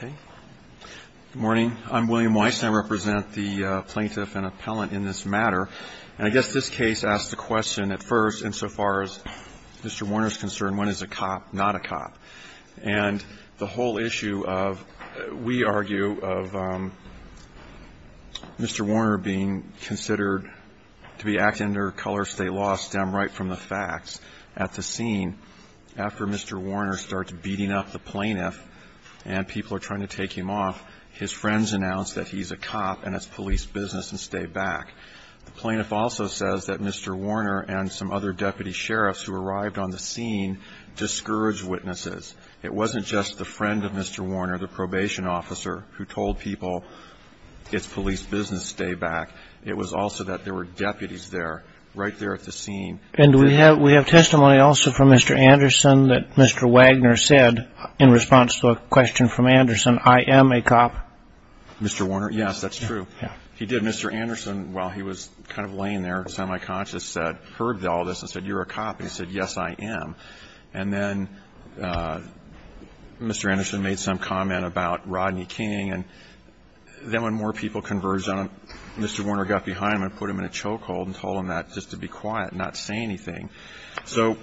Good morning. I'm William Weiss and I represent the plaintiff and appellant in this matter. And I guess this case asks the question at first, insofar as Mr. Warner is concerned, when is a cop not a cop? And the whole issue of, we argue, of Mr. Warner being considered to be acting under coloristate law stem right from the facts at the scene after Mr. Warner starts beating up the plaintiff and people are trying to take him off, his friends announce that he's a cop and it's police business and stay back. The plaintiff also says that Mr. Warner and some other deputy sheriffs who arrived on the scene discouraged witnesses. It wasn't just the friend of Mr. Warner, the probation officer, who told people it's police business, stay back. It was also that there were deputies there, right there at the scene. And we have testimony also from Mr. Anderson that Mr. Wagner said in response to a question from Anderson, I am a cop. Mr. Warner, yes, that's true. He did. Mr. Anderson, while he was kind of laying there, semi-conscious, heard all this and said, you're a cop. He said, yes, I am. And then Mr. Anderson made some comment about Rodney King and then when more people converged on him, Mr. Warner got behind him and put him in a chokehold and told him that just to be quiet and not say anything. So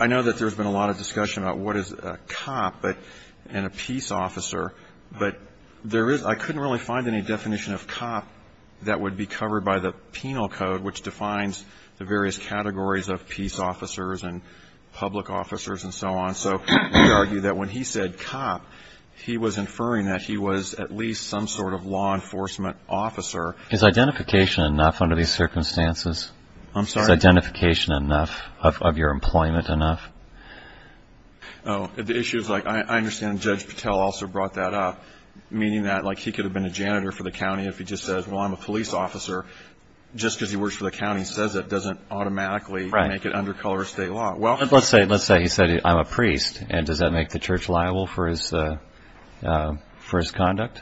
I know that there's been a lot of discussion about what is a cop and a peace officer, but there is I couldn't really find any definition of cop that would be covered by the penal code, which defines the various categories of peace officers and public officers and so on. So we argue that when he said cop, he was inferring that he was at least some sort of law enforcement officer. Is identification enough under these circumstances? I'm sorry, identification enough of your employment enough? Oh, the issue is like I understand Judge Patel also brought that up, meaning that like he could have been a janitor for the county if he just says, well, I'm a police officer just because he works for the county says it doesn't automatically make it under colorist state law. Well, let's say let's say he said, I'm a priest. And does that make the church liable for his for his conduct?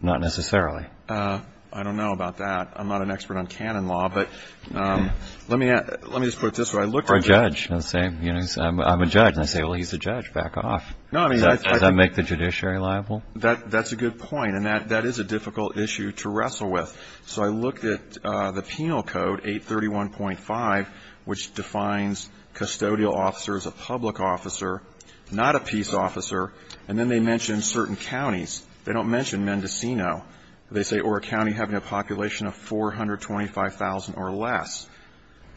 Not necessarily. I don't know about that. I'm not an expert on canon law, but let me let me just put it this way. I look for a judge and say, you know, I'm a judge. I say, well, he's a judge. Back off. No, I mean, I make the judiciary liable. That's a good point. And that that is a difficult issue to wrestle with. So I looked at the Penal Code 831.5, which defines custodial officer as a public officer, not a peace officer. And then they mention certain counties. They don't mention Mendocino. They say or a county having a population of 425,000 or less.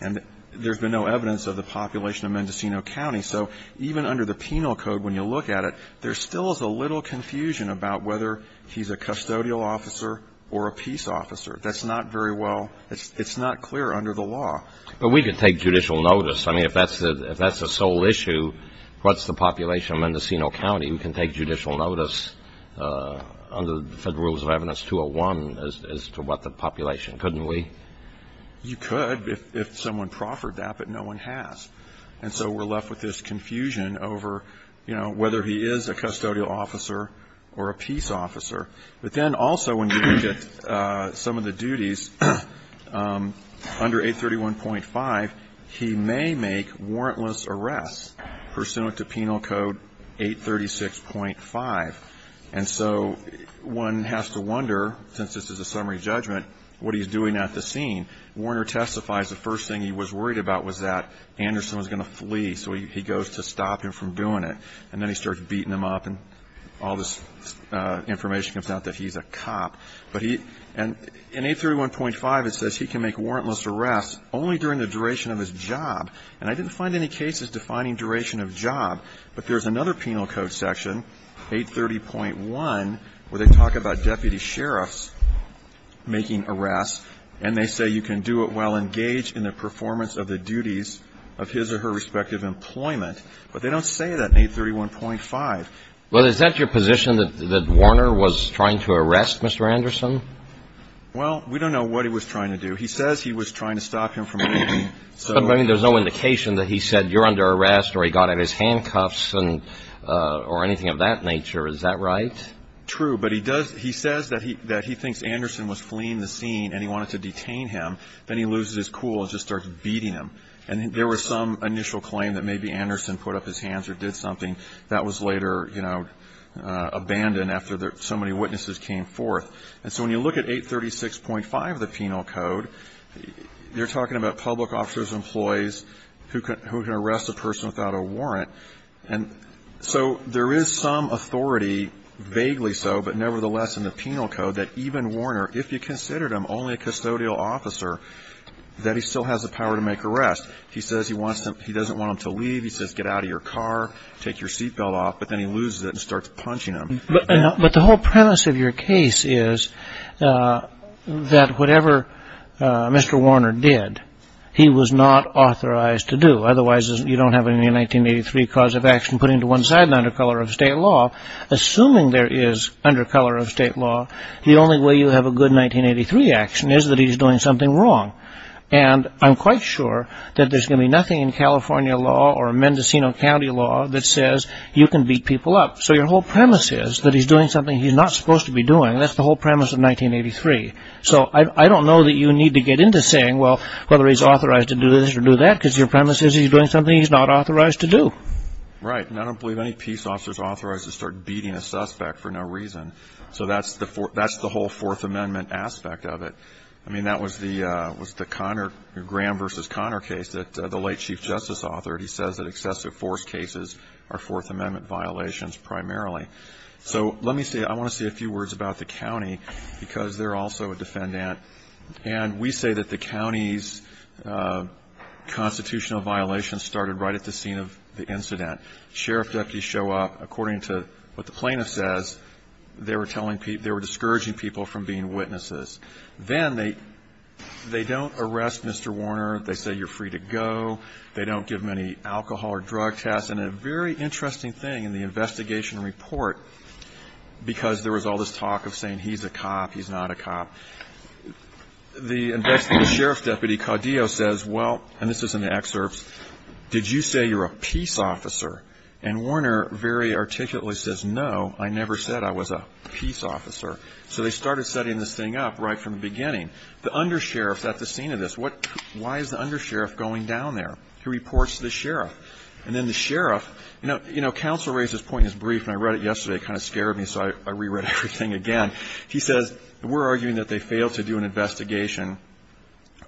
And there's been no evidence of the population of Mendocino County. So even under the Penal Code, when you look at it, there still is a little confusion about whether he's a custodial officer or a peace officer. That's not very well. It's not clear under the law. But we can take judicial notice. I mean, if that's the if that's the sole issue, what's the population of Mendocino County who can take judicial notice under the Federal Rules of Evidence 201 as to what the population, couldn't we? You could if someone proffered that, but no one has. And so we're left with this confusion over, you know, whether he is a custodial officer or a peace officer. But then also when you look at some of the duties under 831.5, he may make warrantless arrests pursuant to Penal Code 836.5. And so one has to wonder, since this is a summary judgment, what he's doing at the scene. Warner testifies the first thing he was worried about was that Anderson was going to flee. So he goes to stop him from doing it. And then he starts beating him up. And all this information comes out that he's a cop. But he and in 831.5, it says he can make warrantless arrests only during the duration of his job. And I didn't find any cases defining duration of job. But there's another Penal Code section, 830.1, where they talk about deputy sheriffs making arrests. And they say you can do it while engaged in the performance of the duties of his or her respective employment. But they don't say that in 831.5. Well, is that your position that Warner was trying to arrest Mr. Anderson? Well, we don't know what he was trying to do. He says he was trying to stop him from doing it. So there's no indication that he said you're under arrest or he got out of his handcuffs or anything of that nature. Is that right? True. But he says that he thinks Anderson was fleeing the scene and he wanted to detain him. Then he loses his cool and just starts beating him. And there was some initial claim that maybe Anderson put up his hands or did something. That was later, you know, abandoned after so many witnesses came forth. And so when you look at 836.5 of the Penal Code, you're talking about public officers and employees who can arrest a person without a warrant. And so there is some authority, vaguely so, but nevertheless in the Penal Code that even Warner, if you considered him only a custodial officer, that he still has the power to make arrests. He says he wants to he doesn't want him to leave. He says, get out of your car, take your seatbelt off. But then he loses it and starts punching him. But the whole premise of your case is that whatever Mr. Warner did, he was not authorized to do. Otherwise, you don't have any 1983 cause of action put into one side under color of state law. Assuming there is under color of state law, the only way you have a good 1983 action is that he's doing something wrong. And I'm quite sure that there's going to be nothing in California law or Mendocino County law that says you can beat people up. So your whole premise is that he's doing something he's not supposed to be doing. That's the whole premise of 1983. So I don't know that you need to get into saying, well, whether he's authorized to do this or do that, because your premise is he's doing something he's not authorized to do. Right. And I don't believe any peace officers authorized to start beating a suspect for no reason. So that's the that's the whole Fourth Amendment aspect of it. I mean, that was the was the Connor Graham versus Connor case that the late chief justice authored. He says that excessive force cases are Fourth Amendment violations primarily. So let me say I want to say a few words about the county because they're also a defendant. And we say that the county's constitutional violation started right at the scene of the incident. Sheriff deputies show up according to what the plaintiff says. They were telling people they were discouraging people from being witnesses. Then they they don't arrest Mr. Warner. They say you're free to go. They don't give many alcohol or drug tests. And a very interesting thing in the investigation report, because there was all this talk of saying he's a cop, he's not a cop. The sheriff's deputy, Caudillo, says, well, and this is an excerpt. Did you say you're a peace officer? And Warner very articulately says, no, I never said I was a peace officer. So they started setting this thing up right from the beginning. The undersheriff's at the scene of this. Why is the undersheriff going down there? He reports to the sheriff. And then the sheriff, you know, counsel raised this point in his brief and I read it yesterday. It kind of scared me. So I reread everything again. He says we're arguing that they failed to do an investigation.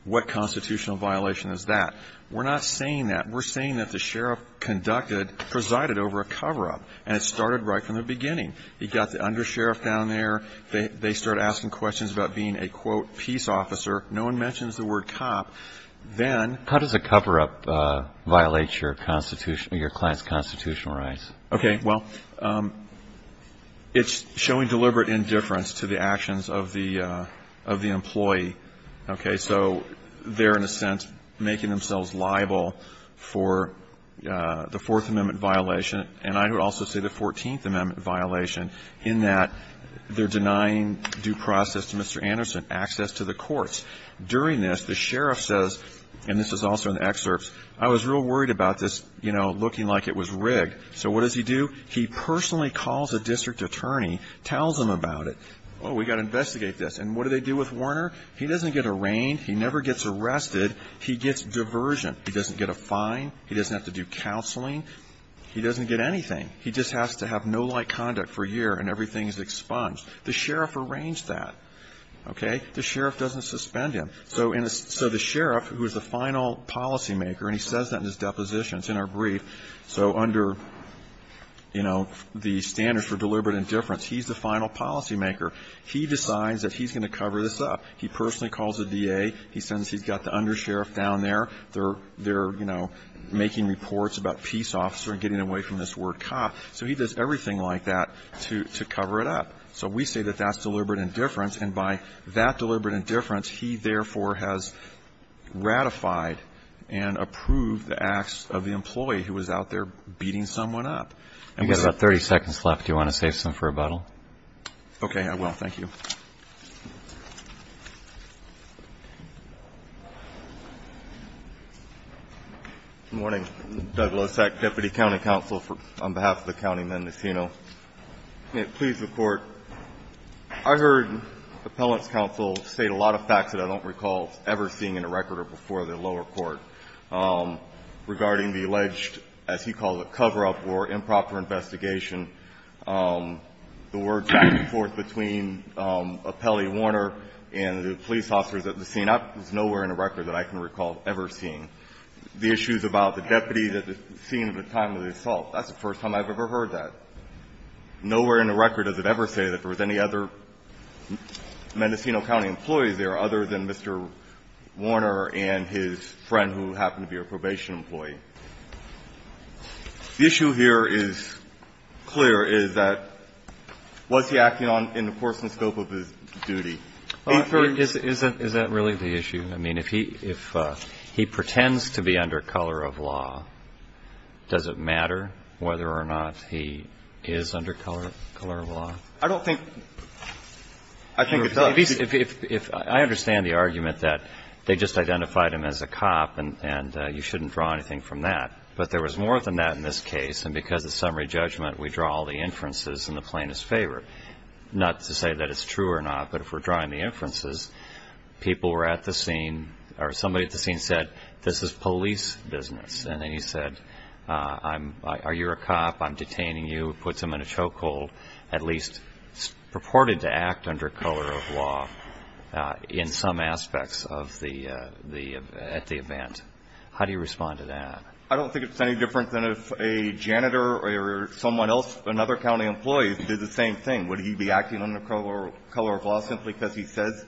What constitutional violation is that? We're not saying that. We're saying that the sheriff conducted presided over a cover up. And it started right from the beginning. He got the undersheriff down there. They start asking questions about being a, quote, peace officer. No one mentions the word cop. Then. How does a cover up violate your constitutional, your client's constitutional rights? Okay. Well, it's showing deliberate indifference to the actions of the, of the employee. Okay. So they're, in a sense, making themselves liable for the Fourth Amendment violation. And I would also say the Fourteenth Amendment violation in that they're denying due process to Mr. Courts. During this, the sheriff says, and this is also in the excerpts, I was real worried about this, you know, looking like it was rigged. So what does he do? He personally calls a district attorney, tells them about it. Oh, we got to investigate this. And what do they do with Warner? He doesn't get arraigned. He never gets arrested. He gets diversion. He doesn't get a fine. He doesn't have to do counseling. He doesn't get anything. He just has to have no light conduct for a year and everything is expunged. The sheriff arranged that. Okay. The sheriff doesn't suspend him. So the sheriff, who is the final policymaker, and he says that in his deposition, it's in our brief. So under, you know, the standards for deliberate indifference, he's the final policymaker. He decides that he's going to cover this up. He personally calls the DA. He says he's got the undersheriff down there. They're, you know, making reports about peace officer and getting away from this word cop. So he does everything like that to cover it up. So we say that that's deliberate indifference. And by that deliberate indifference, he, therefore, has ratified and approved the acts of the employee who was out there beating someone up. And we say that's deliberate indifference. You've got about 30 seconds left. Do you want to save some for rebuttal? Okay. I will. Thank you. Good morning. Doug Losek, Deputy County Counsel on behalf of the County Mendocino. May it please the Court. I heard the appellant's counsel state a lot of facts that I don't recall ever seeing in a record or before the lower court regarding the alleged, as he calls it, cover-up or improper investigation. The words back and forth between Appellee Warner and the police officers at the scene is nowhere in the record that I can recall ever seeing. The issues about the deputy at the scene at the time of the assault, that's the first time I've ever heard that. Nowhere in the record does it ever say that there was any other Mendocino County employee there other than Mr. Warner and his friend who happened to be a probation employee. The issue here is clear, is that was he acting in the coarsen scope of his duty? Is that really the issue? I mean, if he pretends to be under color of law, does it matter whether or not he is under color of law? I don't think. I think it does. I understand the argument that they just identified him as a cop and you shouldn't draw anything from that. But there was more than that in this case. And because of summary judgment, we draw all the inferences in the plaintiff's favor. Not to say that it's true or not, but if we're drawing the inferences, people were at the scene or somebody at the scene said, this is police business. And then he said, are you a cop? I'm detaining you. Puts him in a chokehold, at least purported to act under color of law in some aspects at the event. How do you respond to that? I don't think it's any different than if a janitor or someone else, another county employee did the same thing. Would he be acting under color of law simply because he says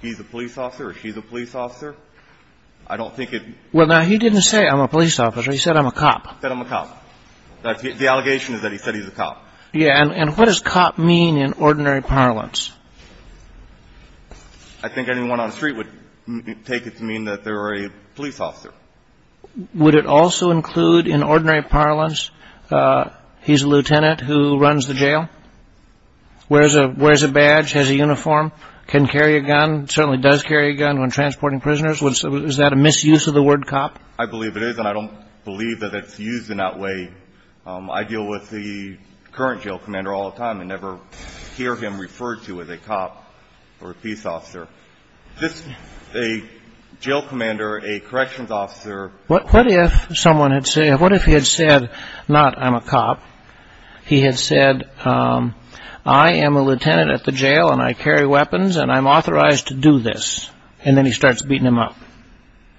he's a police officer or she's a police officer? I don't think it. Well, now he didn't say I'm a police officer. He said I'm a cop. Said I'm a cop. The allegation is that he said he's a cop. Yeah. And what does cop mean in ordinary parlance? I think anyone on the street would take it to mean that they're a police officer. Would it also include in ordinary parlance, he's a lieutenant who runs the jail, wears a badge, has a uniform, can carry a gun, certainly does carry a gun when transporting prisoners? Is that a misuse of the word cop? I believe it is. And I don't believe that it's used in that way. I deal with the current jail commander all the time and never hear him referred to as a cop or a police officer. Just a jail commander, a corrections officer. What if someone had said, what if he had said not I'm a cop? He had said I am a lieutenant at the jail and I carry weapons and I'm authorized to do this. And then he starts beating him up.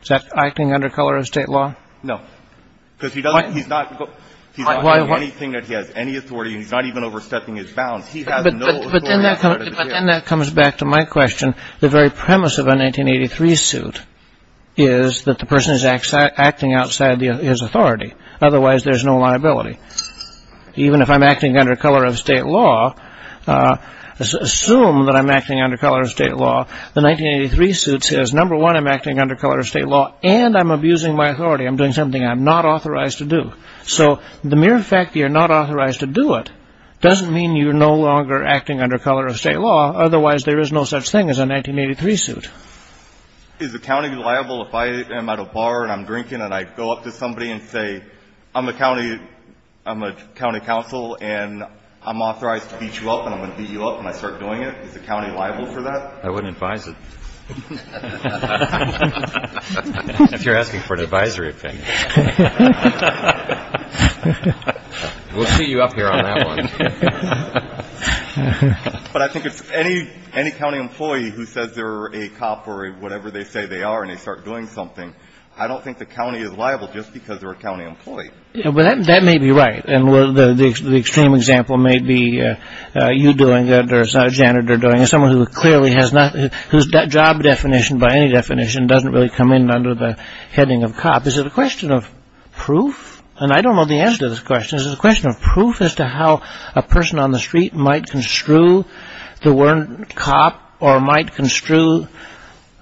Is that acting under color of state law? No. Because he doesn't, he's not, he's not doing anything that he has any authority and he's not even overstepping his bounds. He has no authority. But then that comes back to my question. The very premise of a 1983 suit is that the person is acting outside his authority. Otherwise there's no liability. Even if I'm acting under color of state law, assume that I'm acting under color of state law. The 1983 suit says, number one, I'm acting under color of state law and I'm abusing my authority. I'm doing something I'm not authorized to do. So the mere fact that you're not authorized to do it doesn't mean you're no longer acting under color of state law. Otherwise, there is no such thing as a 1983 suit. Is the county liable if I am at a bar and I'm drinking and I go up to somebody and say, I'm a county, I'm a county council and I'm authorized to beat you up and I'm going to beat you up and I start doing it. Is the county liable for that? I wouldn't advise it. If you're asking for an advisory opinion. We'll see you up here on that one. But I think it's any county employee who says they're a cop or whatever they say they are and they start doing something. I don't think the county is liable just because they're a county employee. But that may be right. And the extreme example may be you doing it or a janitor doing it, someone who clearly has not, whose job definition by any definition doesn't really come in under the heading of cop. Is it a question of proof? And I don't know the answer to this question. Is it a question of proof as to how a person on the street might construe the word cop or might construe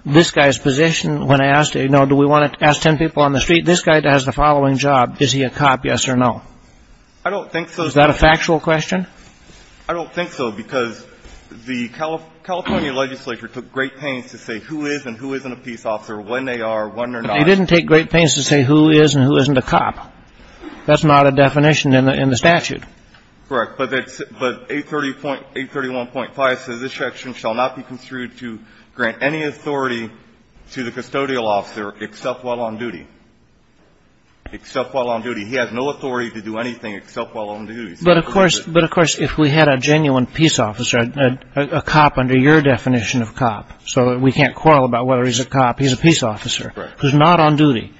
this guy's position when I asked, you know, do we want to ask 10 people on the street? This guy has the following job. Is he a cop, yes or no? I don't think so. Is that a factual question? I don't think so because the California legislature took great pains to say who is and who isn't a peace officer, when they are, when they're not. But they didn't take great pains to say who is and who isn't a cop. That's not a definition in the statute. Correct. But 830.831.5 says this section shall not be construed to grant any authority to the custodial officer except while on duty. Except while on duty. He has no authority to do anything except while on duty. But, of course, but, of course, if we had a genuine peace officer, a cop under your definition of cop, so we can't quarrel about whether he's a cop. He's a peace officer who's not on duty,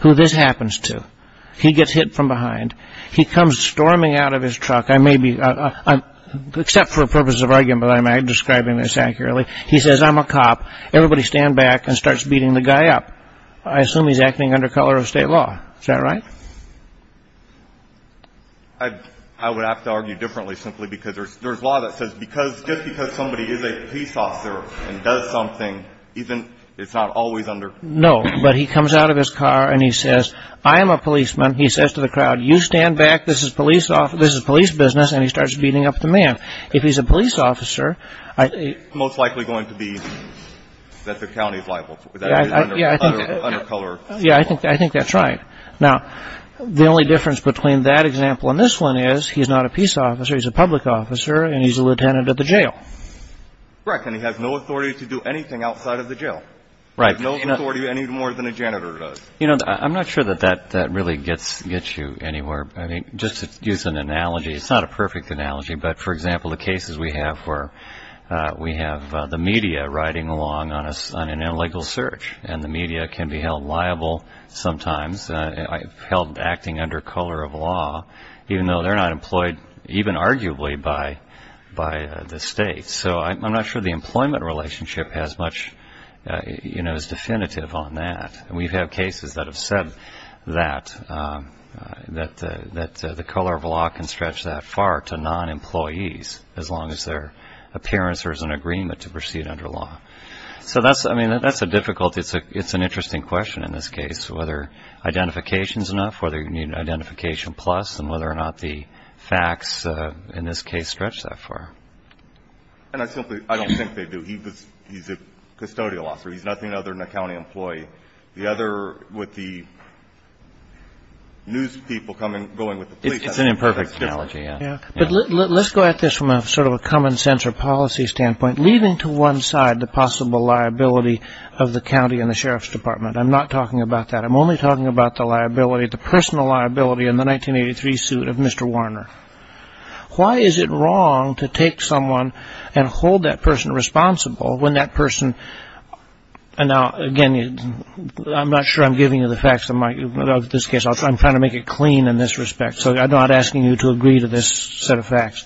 who this happens to. He gets hit from behind. He comes storming out of his truck. I may be except for a purpose of argument. I'm describing this accurately. He says, I'm a cop. Everybody stand back and starts beating the guy up. I assume he's acting under color of state law. Is that right? I would have to argue differently simply because there's law that says just because somebody is a peace officer and does something, it's not always under. No, but he comes out of his car and he says, I am a policeman. He says to the crowd, you stand back. This is police business. And he starts beating up the man. If he's a police officer. Most likely going to be that the county is liable. Yeah, I think that's right. Now, the only difference between that example and this one is he's not a peace officer. He's a public officer. And he's a lieutenant at the jail. Right. And he has no authority to do anything outside of the jail. Right. No authority any more than a janitor does. You know, I'm not sure that that really gets you anywhere. I mean, just to use an analogy, it's not a perfect analogy. But for example, the cases we have where we have the media riding along on us on an illegal search and the media can be held liable. Sometimes held acting under color of law, even though they're not employed, even arguably by by the state. So I'm not sure the employment relationship has much, you know, is definitive on that. And we've had cases that have said that that that the color of law can stretch that far to non employees as long as their appearance or as an agreement to proceed under law. So that's I mean, that's a difficult. It's a it's an interesting question in this case, whether identification is enough, whether you need an identification plus and whether or not the facts in this case stretch that far. And I simply I don't think they do. He was he's a custodial officer. He's nothing other than a county employee. The other with the. News people coming going with it's an imperfect analogy. But let's go at this from a sort of a common sense or policy standpoint, leaving to one side the possible liability of the county and the sheriff's department. I'm not talking about that. I'm only talking about the liability, the personal liability in the 1983 suit of Mr. Warner. Why is it wrong to take someone and hold that person responsible when that person. And now, again, I'm not sure I'm giving you the facts of this case. I'm trying to make it clean in this respect. So I'm not asking you to agree to this set of facts.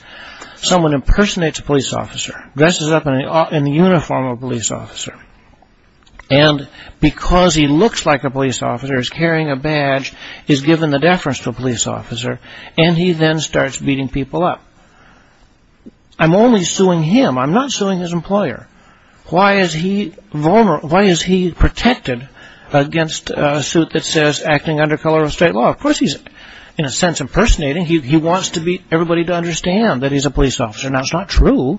Someone impersonates a police officer, dresses up in the uniform of a police officer. And because he looks like a police officer is carrying a badge is given the deference to a police officer. And he then starts beating people up. I'm only suing him. I'm not suing his employer. Why is he vulnerable? Why is he protected against a suit that says acting under color of state law? Of course, he's in a sense impersonating. He wants to beat everybody to understand that he's a police officer. Now, it's not true.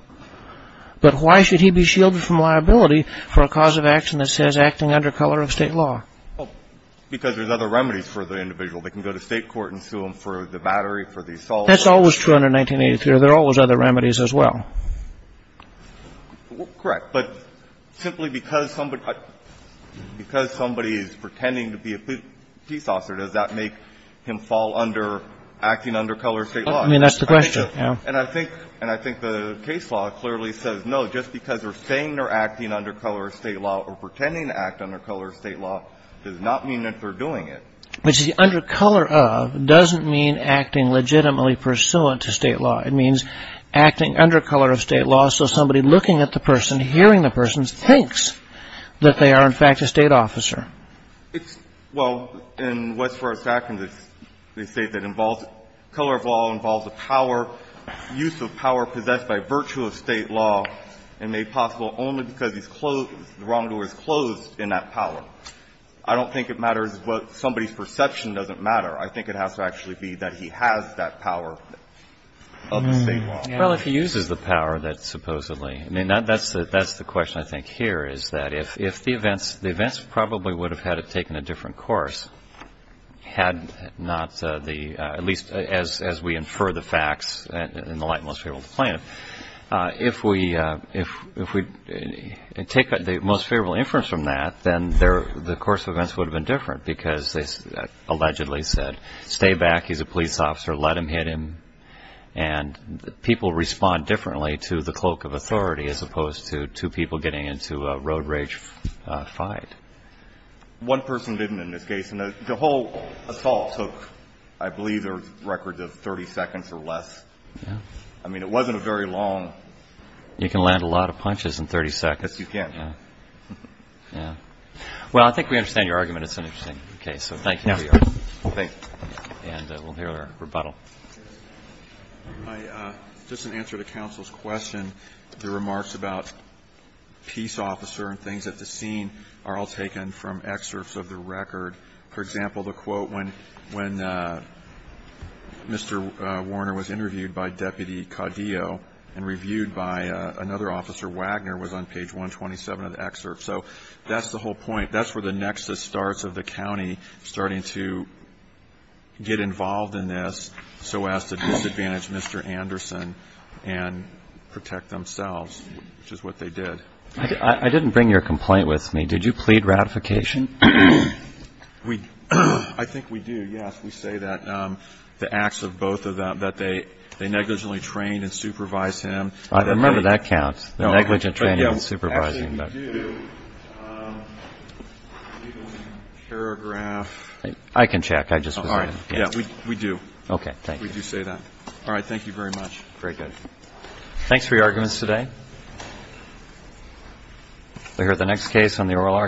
But why should he be shielded from liability for a cause of action that says acting under color of state law? Because there's other remedies for the individual. They can go to state court and sue him for the battery, for the assault. That's always true under 1983. There are always other remedies as well. Correct. But simply because somebody is pretending to be a police officer, does that make him fall under acting under color of state law? I mean, that's the question. And I think the case law clearly says no. Just because they're saying they're acting under color of state law or pretending to act under color of state law does not mean that they're doing it. Which the under color of doesn't mean acting legitimately pursuant to state law. It means acting under color of state law. So somebody looking at the person, hearing the person thinks that they are, in fact, a state officer. It's well, in what's for a second, they say that involves color of law, involves the power, use of power possessed by virtue of state law and made possible only because he's closed the wrong door is closed in that power. I don't think it matters what somebody's perception doesn't matter. I think it has to actually be that he has that power. Well, if he uses the power that supposedly I mean, that's that's the question I think here is that if if the events the events probably would have had it taken a different course had not the at least as as we infer the facts in the light most favorable to plan if we if we take the most favorable inference from that, then there the course of events would have been different because they allegedly said stay back. He's a police officer. Let him hit him. And people respond differently to the cloak of authority as opposed to two people getting into a road rage fight. One person didn't in this case. And the whole assault took, I believe, a record of 30 seconds or less. I mean, it wasn't a very long. You can land a lot of punches in 30 seconds. You can. Yeah. Well, I think we understand your argument. It's an interesting case. So thank you. Thank you. And we'll hear their rebuttal. Just an answer to counsel's question. The remarks about peace officer and things at the scene are all taken from excerpts of the record. For example, the quote when when Mr. Warner was interviewed by Deputy Caudillo and reviewed by another officer, Wagner was on page 127 of the excerpt. So that's the whole point. That's where the nexus starts of the county starting to get involved in this. So as to disadvantage Mr. Anderson and protect themselves, which is what they did. I didn't bring your complaint with me. Did you plead ratification? We I think we do. Yes. We say that the acts of both of them that they they negligently trained and supervised him. I remember that counts. Negligent training and supervising. Paragraph. I can check. I just we do. Okay. Thank you. You say that. All right. Thank you very much. Very good. Thanks for your arguments today. We hear the next case on the oral argument.